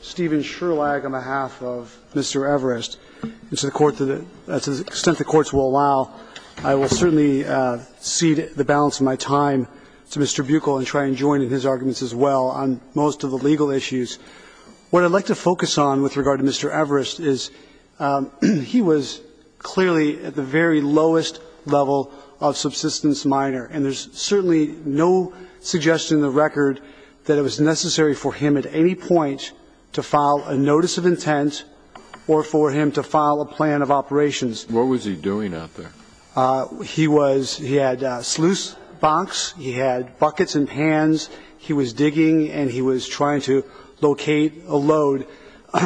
Stephen Sherlag, on behalf of Mr. Everist, and to the extent the courts will allow, I will certainly cede the balance of my time to Mr. Buchel and try and join in his arguments as well on most of the legal issues. What I'd like to focus on with regard to Mr. Everist is he was clearly at the very lowest level of subsistence minor, and there's certainly no suggestion in the record that it was necessary for him at any point to file a notice of intent or for him to file a plan of operations. What was he doing out there? He was, he had a sluice box, he had buckets and pans, he was digging and he was trying to locate a load.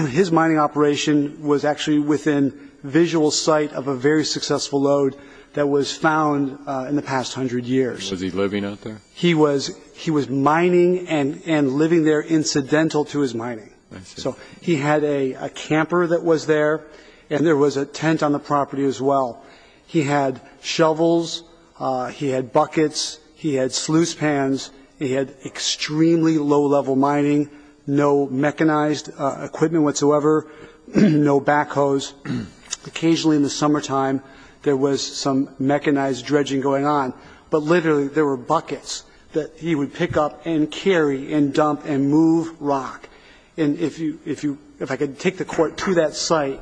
His mining operation was actually within visual sight of a very successful load that was found in the past hundred years. Was he living out there? He was, he was mining and living there incidental to his mining. I see. So he had a camper that was there, and there was a tent on the property as well. He had shovels, he had buckets, he had sluice pans, he had extremely low-level mining, no mechanized equipment whatsoever, no backhoes. Occasionally in the summertime, there was some mechanized dredging going on, but literally there were buckets that he would pick up and carry and dump and move rock. And if you, if you, if I could take the Court to that site,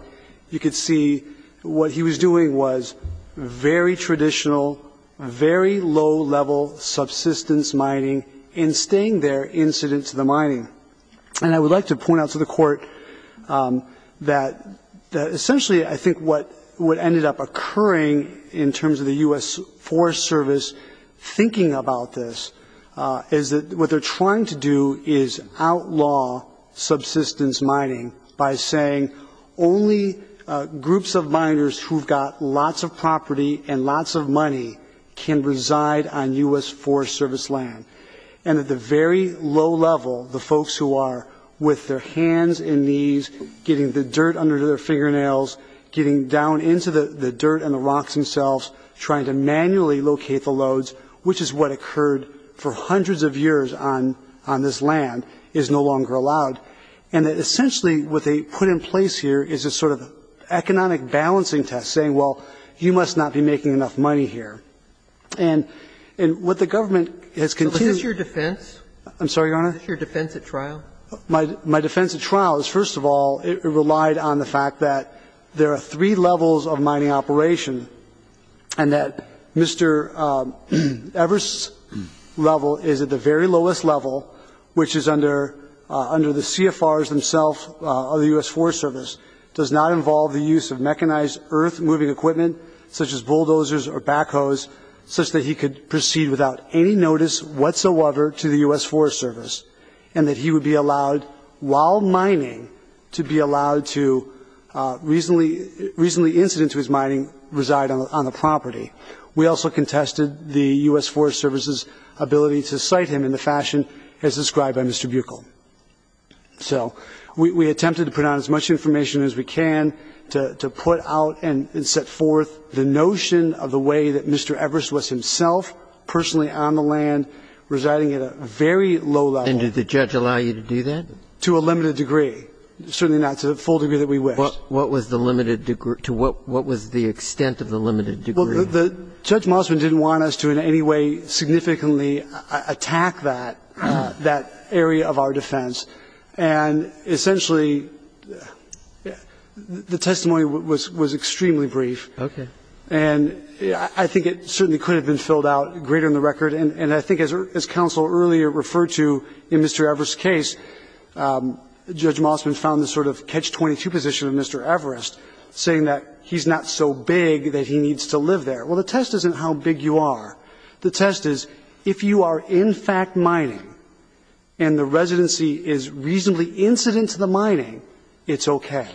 you could see what he was doing was very traditional, very low-level subsistence mining and staying there incident to the mining. And I would like to point out to the Court that essentially I think what ended up occurring in terms of the U.S. Forest Service thinking about this is that what they're trying to do is outlaw subsistence mining by saying only groups of miners who have got lots of property and lots of money can reside on U.S. Forest Service land. And at the very low level, the folks who are with their hands and knees getting the dirt and the rocks themselves, trying to manually locate the loads, which is what occurred for hundreds of years on this land, is no longer allowed. And that essentially what they put in place here is a sort of economic balancing test, saying, well, you must not be making enough money here. And what the government has continued to do to protect this land. So is this your defense? I'm sorry, Your Honor? Is this your defense at trial? My defense at trial is, first of all, it relied on the fact that there are three levels of mining operation, and that Mr. Evers' level is at the very lowest level, which is under the CFRs themselves of the U.S. Forest Service, does not involve the use of mechanized earth-moving equipment, such as bulldozers or backhoes, such that he could proceed without any notice whatsoever to the U.S. Forest Service, and that he would be allowed, while mining, to be allowed to, reasonably incident to his mining, reside on the property. We also contested the U.S. Forest Service's ability to cite him in the fashion as described by Mr. Buechel. So we attempted to put out as much information as we can to put out and set forth the And we found that he was not personally on the land, residing at a very low level. And did the judge allow you to do that? To a limited degree. Certainly not to the full degree that we wished. What was the limited degree? To what was the extent of the limited degree? Well, Judge Mossman didn't want us to in any way significantly attack that, that area of our defense. And essentially, the testimony was extremely brief. Okay. And I think it certainly could have been filled out greater than the record. And I think, as Counsel earlier referred to in Mr. Everest's case, Judge Mossman found the sort of catch-22 position of Mr. Everest, saying that he's not so big that he needs to live there. Well, the test isn't how big you are. The test is, if you are in fact mining and the residency is reasonably incident to the mining, it's okay.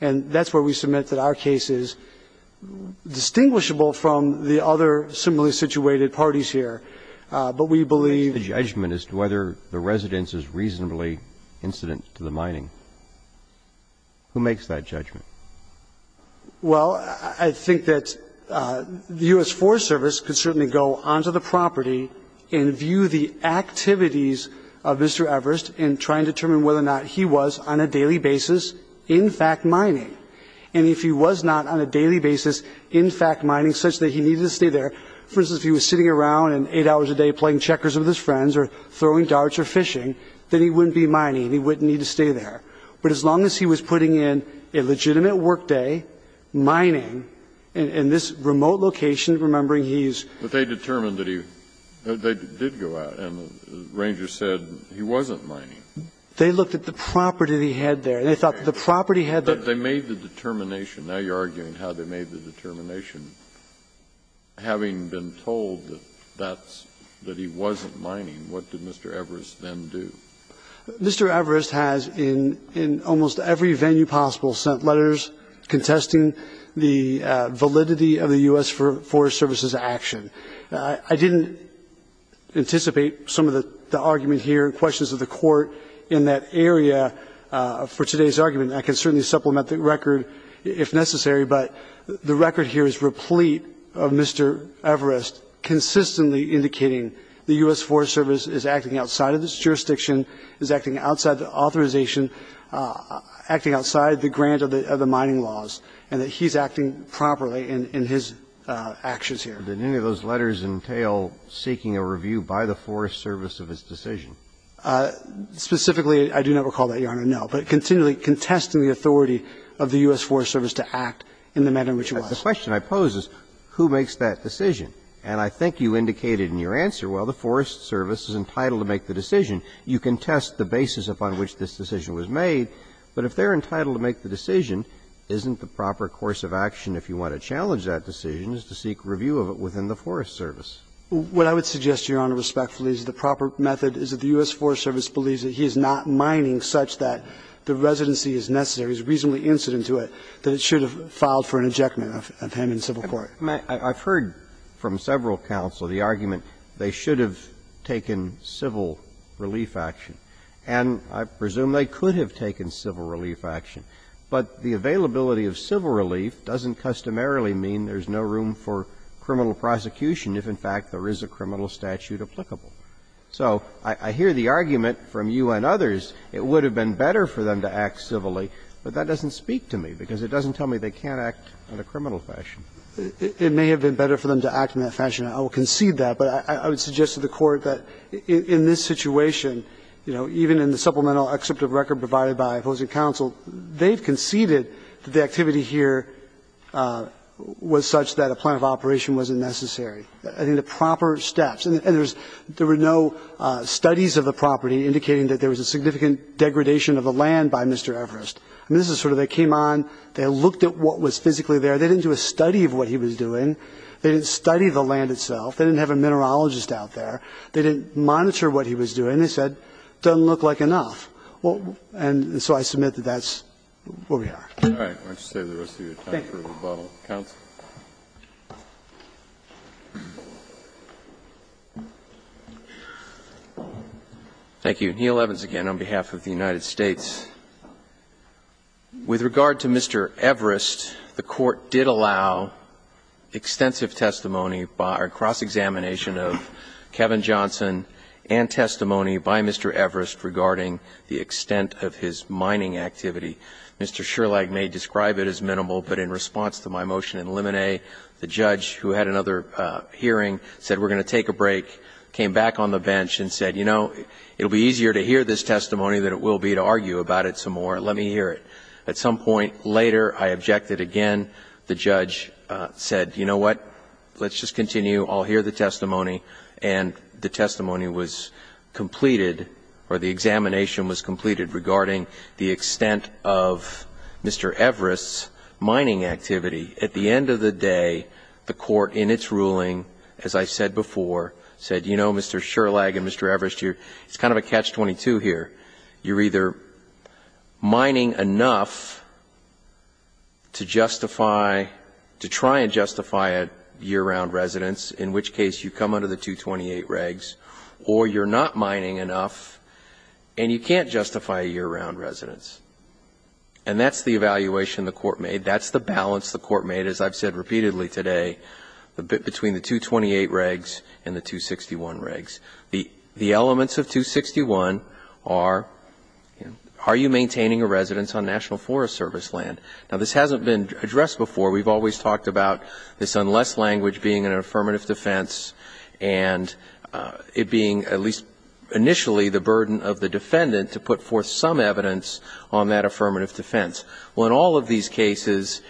And that's where we submit that our case is distinguishable from the other similarly situated parties here. But we believe the judgment as to whether the residence is reasonably incident to the mining. Who makes that judgment? Well, I think that the U.S. Forest Service could certainly go onto the property and view the activities of Mr. Everest and try and determine whether or not he was on a daily basis, in fact, mining. And if he was not on a daily basis, in fact, mining, such that he needed to stay there, for instance, if he was sitting around eight hours a day playing checkers with his friends or throwing darts or fishing, then he wouldn't be mining and he wouldn't need to stay there. But as long as he was putting in a legitimate workday, mining, in this remote location, remembering he's ---- But they determined that he did go out and the ranger said he wasn't mining. They looked at the property that he had there. They thought that the property had the ---- But they made the determination. Now you are arguing how they made the determination. Having been told that he wasn't mining, what did Mr. Everest then do? Mr. Everest has, in almost every venue possible, sent letters contesting the validity of the U.S. Forest Service's action. I didn't anticipate some of the argument here and questions of the Court in that area for today's argument. I can certainly supplement the record if necessary, but the record here is replete of Mr. Everest consistently indicating the U.S. Forest Service is acting outside of its jurisdiction, is acting outside the authorization, acting outside the grant of the mining laws, and that he's acting properly in his actions here. Did any of those letters entail seeking a review by the Forest Service of his decision? Specifically, I do not recall that, Your Honor, no. But continually contesting the authority of the U.S. Forest Service to act in the manner in which it was. The question I pose is who makes that decision? And I think you indicated in your answer, well, the Forest Service is entitled to make the decision. You can test the basis upon which this decision was made, but if they're entitled to make the decision, isn't the proper course of action, if you want to challenge that decision, is to seek review of it within the Forest Service? What I would suggest, Your Honor, respectfully, is the proper method is that the U.S. Forest Service believes that he is not mining such that the residency is necessary, is reasonably incident to it, that it should have filed for an ejectment of him in civil court. And I've heard from several counsel the argument they should have taken civil relief action, and I presume they could have taken civil relief action. But the availability of civil relief doesn't customarily mean there's no room for criminal prosecution if, in fact, there is a criminal statute applicable. So I hear the argument from you and others it would have been better for them to act civilly, but that doesn't speak to me, because it doesn't tell me they can't act in a criminal fashion. It may have been better for them to act in that fashion. I will concede that. But I would suggest to the Court that in this situation, you know, even in the supplemental excerpt of record provided by opposing counsel, they've conceded that the activity here was such that a plan of operation wasn't necessary. I think the proper steps, and there was no studies of the property indicating that there was a significant degradation of the land by Mr. Everest. I mean, this is sort of they came on, they looked at what was physically there. They didn't do a study of what he was doing. They didn't study the land itself. They didn't have a mineralogist out there. They didn't monitor what he was doing. They said, it doesn't look like enough. And so I submit that that's where we are. Kennedy. Thank you. Thank you. Roberts. Thank you. Neil Evans again on behalf of the United States. With regard to Mr. Everest, the Court did allow extensive testimony by cross-examination of Kevin Johnson and testimony by Mr. Everest regarding the extent of his mining activity. Mr. Sherlag may describe it as minimal, but in response to my motion in limine, the judge, who had another hearing, said, we're going to take a break, came back on the bench and said, you know, it will be easier to hear this testimony than it will be to argue about it some more. Let me hear it. At some point later, I objected again. The judge said, you know what? Let's just continue. I'll hear the testimony. And the testimony was completed, or the examination was completed, regarding the extent of Mr. Everest's mining activity. At the end of the day, the Court, in its ruling, as I said before, said, you know, Mr. Sherlag and Mr. Everest, it's kind of a catch-22 here. You're either mining enough to justify, to try and justify a year-round residence, in which case you come under the 228 regs, or you're not mining enough, and you can't justify a year-round residence. And that's the evaluation the Court made. That's the balance the Court made, as I've said repeatedly today, between the 228 regs and the 261 regs. The elements of 261 are, are you maintaining a residence on National Forest Service land? Now, this hasn't been addressed before. We've always talked about this unless language being an affirmative defense, and it being, at least initially, the burden of the defendant to put forth some evidence on that affirmative defense. Well, in all of these cases,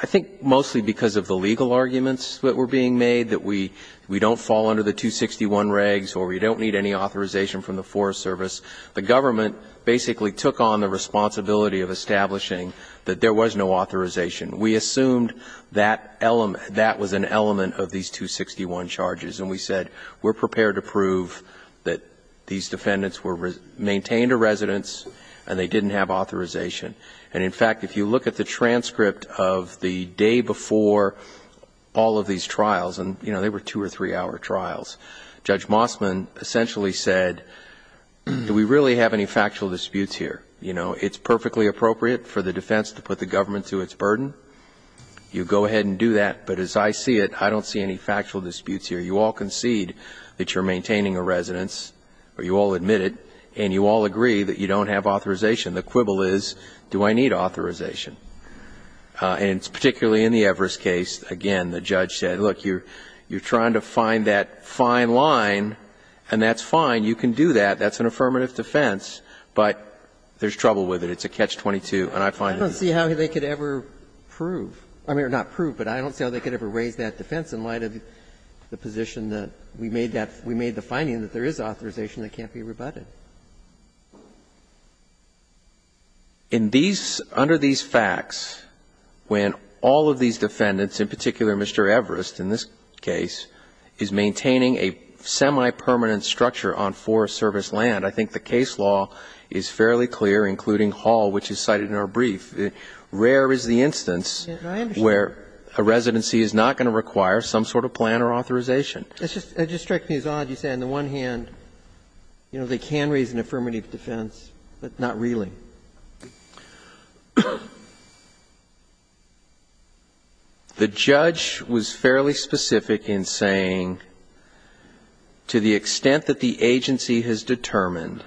I think mostly because of the legal arguments that were being made, that we, we don't fall under the 261 regs, or we don't need any authorization from the Forest Service, the government basically took on the responsibility of establishing that there was no authorization. We assumed that element, that was an element of these 261 charges. And we said, we're prepared to prove that these defendants were, maintained a residence, and they didn't have authorization. And in fact, if you look at the transcript of the day before all of these trials, and, you know, they were two or three hour trials, Judge Mossman essentially said, do we really have any factual disputes here? You know, it's perfectly appropriate for the defense to put the government to its burden, you go ahead and do that. But as I see it, I don't see any factual disputes here. You all concede that you're maintaining a residence, or you all admit it, and you all agree that you don't have authorization. The quibble is, do I need authorization? And particularly in the Everest case, again, the judge said, look, you're trying to find that fine line, and that's fine, you can do that, that's an affirmative defense, but there's trouble with it, it's a catch-22, and I find it. I don't see how they could ever prove, I mean, or not prove, but I don't see how they could ever raise that defense in light of the position that we made that, we made the finding that there is authorization that can't be rebutted. In these, under these facts, when all of these defendants, in particular Mr. Everest in this case, is maintaining a semi-permanent structure on Forest Service land, I think the case law is fairly clear, including Hall, which is cited in our brief. Rare is the instance where a residency is not going to require some sort of plan or authorization. It just strikes me as odd, you say on the one hand, you know, they can raise an affirmative defense, but not really. The judge was fairly specific in saying, to the extent that the agency has determined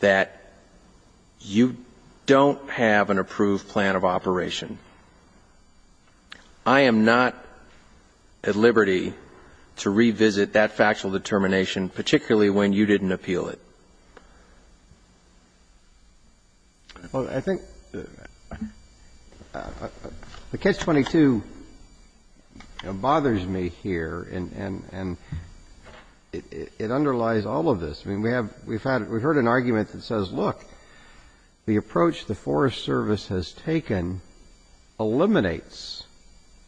that you don't have an approved plan of operation, I am not at liberty to say that to revisit that factual determination, particularly when you didn't appeal it. Well, I think the Catch-22, it bothers me here, and it underlies all of this. I mean, we have, we've had, we've heard an argument that says, look, the approach the Forest Service has taken eliminates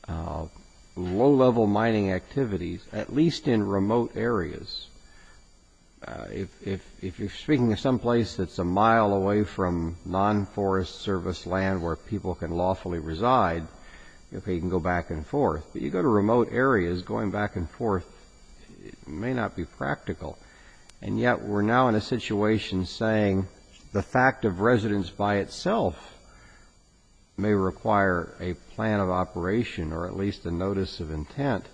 low-level mining activities, at least in remote areas. If you're speaking of some place that's a mile away from non-Forest Service land where people can lawfully reside, okay, you can go back and forth, but you go to remote areas, going back and forth may not be practical, and yet we're now in a situation saying the fact of residence by itself may require a plan of operation, or at least a notice of intent.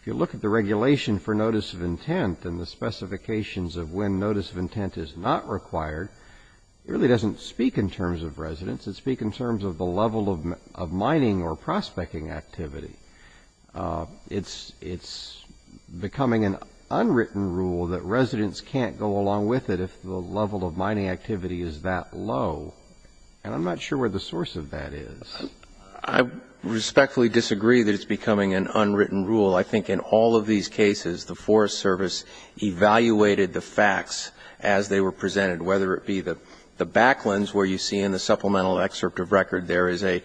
If you look at the regulation for notice of intent and the specifications of when notice of intent is not required, it really doesn't speak in terms of residence, it speaks in terms of the level of mining or prospecting activity. It's becoming an unwritten rule that residents can't go along with it if the level of mining activity is that low, and I'm not sure where the source of that is. I respectfully disagree that it's becoming an unwritten rule. I think in all of these cases, the Forest Service evaluated the facts as they were presented, whether it be the back lens where you see in the supplemental excerpt of record there is a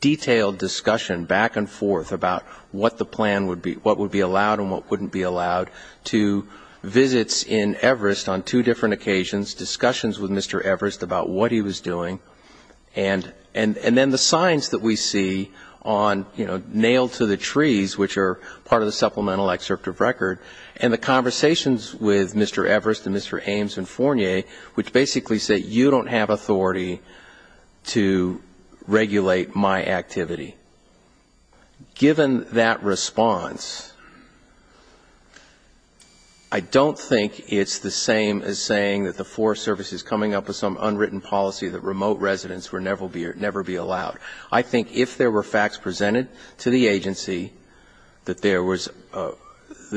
detailed discussion back and forth about what the plan would be, what would be allowed and what wouldn't be allowed, to visits in Everest on two different occasions, discussions with Mr. Everest about what he was doing, and then the signs that we see on, you know, nailed to the trees, which are part of the supplemental excerpt of record, and the conversations with Mr. Everest and Mr. Ames and Fournier, which basically say you don't have authority to regulate my activity. Given that response, I don't think it's the same as saying that the Forest Service is coming up with some unwritten policy that remote residents will never be allowed. I think if there were facts presented to the agency that there was a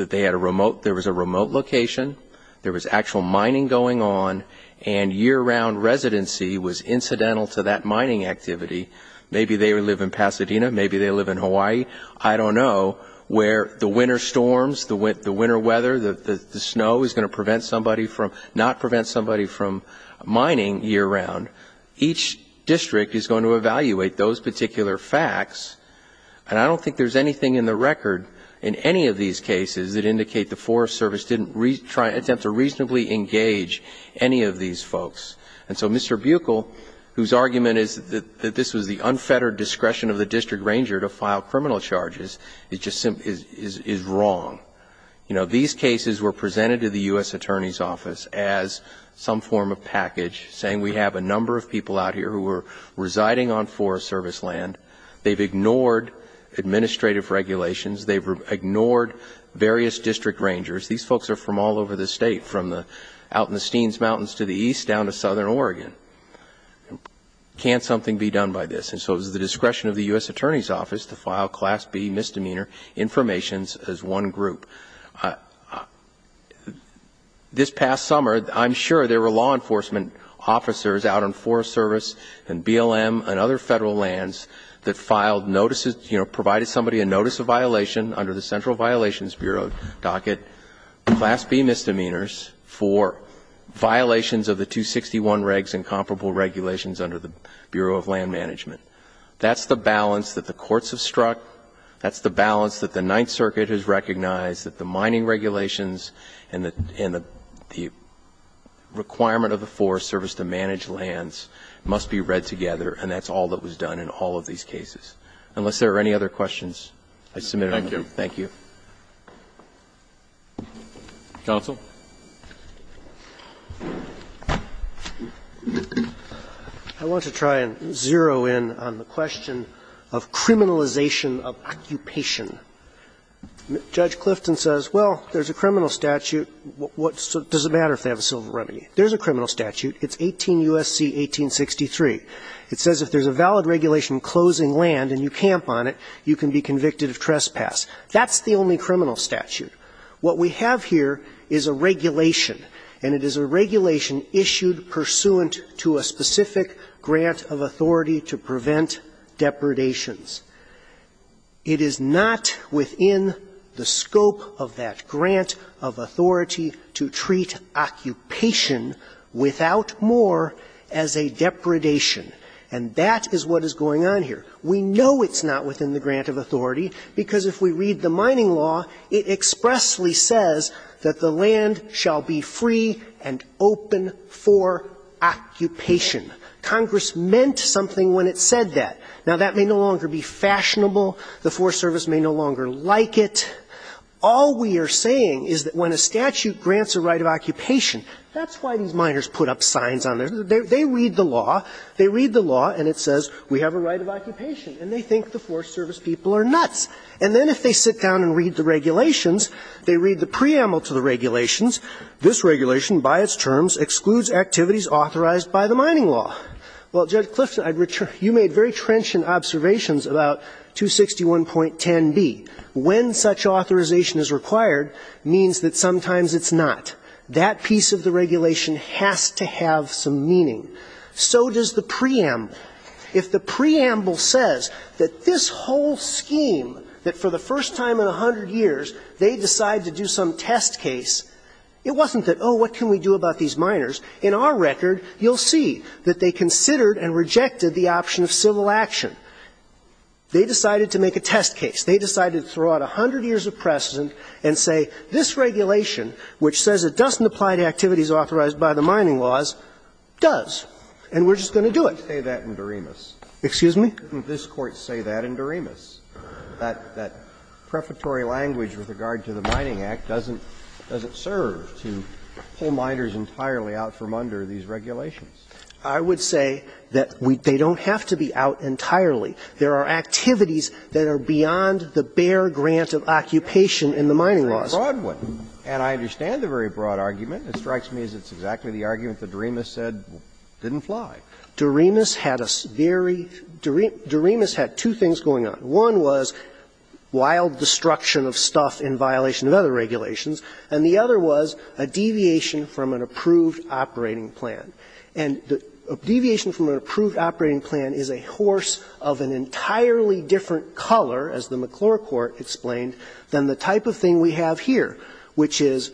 remote location, there was actual mining going on, and year-round residency was incidental to that mining activity, maybe they live in Pasadena, maybe they live in Hawaii, I don't know, where the winter storms, the winter weather, the snow is going to prevent somebody from, not prevent somebody from mining year-round. Each district is going to evaluate those particular facts, and I don't think there's anything in the record in any of these cases that indicate the Forest Service didn't attempt to reasonably engage any of these folks. And so Mr. Buechel, whose argument is that this was the unfettered discretion of the district ranger to file criminal charges, it just is wrong. You know, these cases were presented to the U.S. Attorney's Office as some form of package saying we have a number of people out here who are residing on Forest Service land, they've ignored administrative regulations, they've ignored various district rangers. These folks are from all over the east down to southern Oregon. Can't something be done by this? And so it was the discretion of the U.S. Attorney's Office to file Class B misdemeanor informations as one group. This past summer, I'm sure there were law enforcement officers out on Forest Service and BLM and other Federal lands that filed notices, you know, provided somebody a notice of violation under the Central Violations Bureau docket, Class B misdemeanors for violations of the 261 regs and comparable regulations under the Bureau of Land Management. That's the balance that the courts have struck. That's the balance that the Ninth Circuit has recognized, that the mining regulations and the requirement of the Forest Service to manage lands must be read together, and that's all that was done in all of these cases. Unless there are any other questions, I submit them. Thank you. Thank you. Counsel. I want to try and zero in on the question of criminalization of occupation. Judge Clifton says, well, there's a criminal statute. Does it matter if they have a civil remedy? There's a criminal statute. It's 18 U.S.C. 1863. It says if there's a valid regulation closing land and you camp on it, you can be convicted of trespass. That's the only criminal statute. What we have here is a regulation, and it is a regulation issued pursuant to a specific grant of authority to prevent depredations. It is not within the scope of that grant of authority to treat occupation without more as a depredation, and that is what is going on here. We know it's not within the grant of authority because if we read the mining law, it expressly says that the land shall be free and open for occupation. Congress meant something when it said that. Now, that may no longer be fashionable. The Forest Service may no longer like it. All we are saying is that when a statute grants a right of occupation, that's why these miners put up signs on there. They read the law, they read the law, and it says we have a right of occupation, and they think the Forest Service people are nuts. And then if they sit down and read the regulations, they read the preamble to the regulations, this regulation, by its terms, excludes activities authorized by the mining law. Well, Judge Clifton, you made very trenchant observations about 261.10b. When such authorization is required means that sometimes it's not. That piece of the case, so does the preamble. If the preamble says that this whole scheme, that for the first time in a hundred years, they decide to do some test case, it wasn't that, oh, what can we do about these miners? In our record, you'll see that they considered and rejected the option of civil action. They decided to make a test case. They decided to throw out a hundred years of precedent and say this regulation, which says it doesn't apply to activities authorized by the mining laws, does, and we're just going to do it. Scalia. Excuse me? Didn't this Court say that in Doremus? That prefatory language with regard to the Mining Act doesn't serve to pull miners entirely out from under these regulations. I would say that they don't have to be out entirely. There are activities that are beyond the bare grant of occupation in the mining laws. And I understand the very broad argument. It strikes me as it's exactly the argument that Doremus said didn't fly. Doremus had a very – Doremus had two things going on. One was wild destruction of stuff in violation of other regulations, and the other was a deviation from an approved operating plan. And a deviation from an approved operating plan is a horse of an entirely different color, as the McClure Court explained, than the type of thing we have here, which is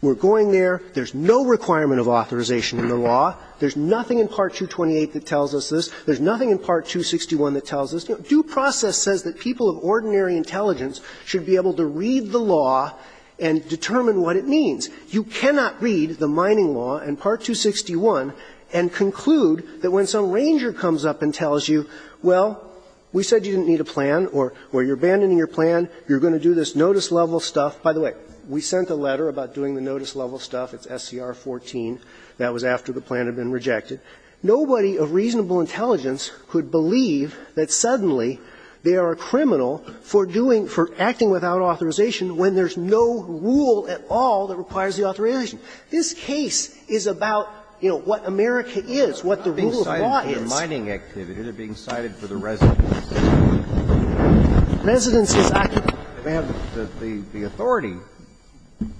we're going there, there's no requirement of authorization in the law, there's nothing in Part 228 that tells us this, there's nothing in Part 261 that tells us this. Due process says that people of ordinary intelligence should be able to read the law and determine what it means. You cannot read the mining law and Part 261 and conclude that when some ranger comes up and tells you, well, we said you didn't need a plan or, well, you're abandoning your plan, you're going to do this notice-level stuff. By the way, we sent a letter about doing the notice-level stuff. It's SCR 14. That was after the plan had been rejected. Nobody of reasonable intelligence could believe that suddenly they are a criminal for doing – for acting without authorization when there's no rule at all that requires the authorization. This case is about, you know, what America is, what the rule of law is. Kennedy, they're not being cited for mining activity, they're being cited for the residence. Residence is occupation. They may have the authority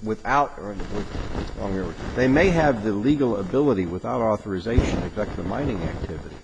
without – they may have the legal ability without authorization to conduct the mining activity.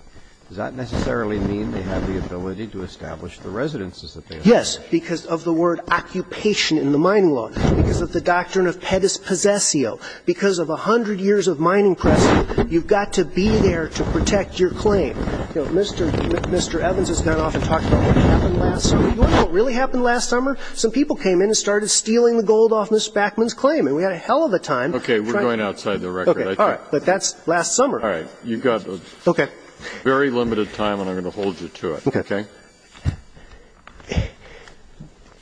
Does that necessarily mean they have the ability to establish the residences that they have? Yes, because of the word occupation in the mining law, because of the doctrine of pettis possesio, because of a hundred years of mining precedent, you've got to be there to protect your claim. You know, Mr. Evans has gone off and talked about what happened last summer. You want to know what really happened last summer? Some people came in and started stealing the gold off Ms. Backman's claim, and we had a hell of a time trying to – Okay, we're going outside the record. Okay, all right, but that's last summer. All right, you've got – Very limited time, and I'm going to hold you to it. Okay. Okay? Okay.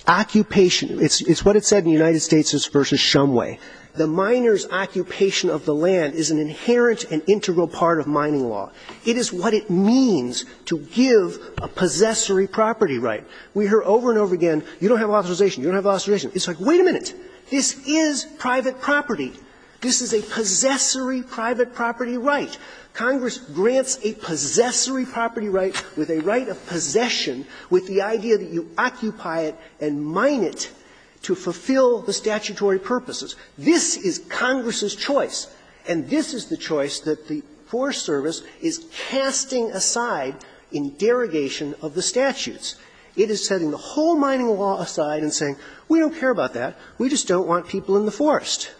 Occupation, it's what it said in United States v. Shumway. The miner's occupation of the land is an inherent and integral part of mining law. It is what it means to give a possessory property right. We hear over and over again, you don't have authorization, you don't have authorization. It's like, wait a minute, this is private property. This is a possessory private property right. Congress grants a possessory property right with a right of possession with the idea that you occupy it and mine it to fulfill the statutory purposes. This is Congress's choice, and this is the choice that the Forest Service is casting aside in derogation of the statutes. It is setting the whole mining law aside and saying, we don't care about that. We just don't want people in the forest.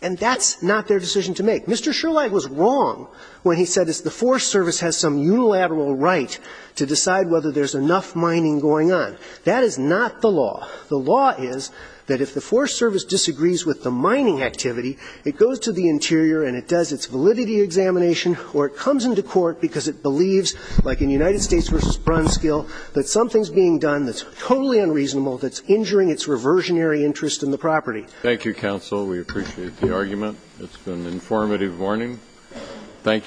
And that's not their decision to make. Mr. Sherlag was wrong when he said the Forest Service has some unilateral right to decide whether there's enough mining going on. That is not the law. The law is that if the Forest Service disagrees with the mining activity, it goes to the interior and it does its validity examination or it comes into court because it believes, like in United States v. Brunskill, that something's being done that's totally unreasonable that's injuring its reversionary interest in the property. Thank you, counsel. We appreciate the argument. It's been an informative morning. Thank you. Thank you.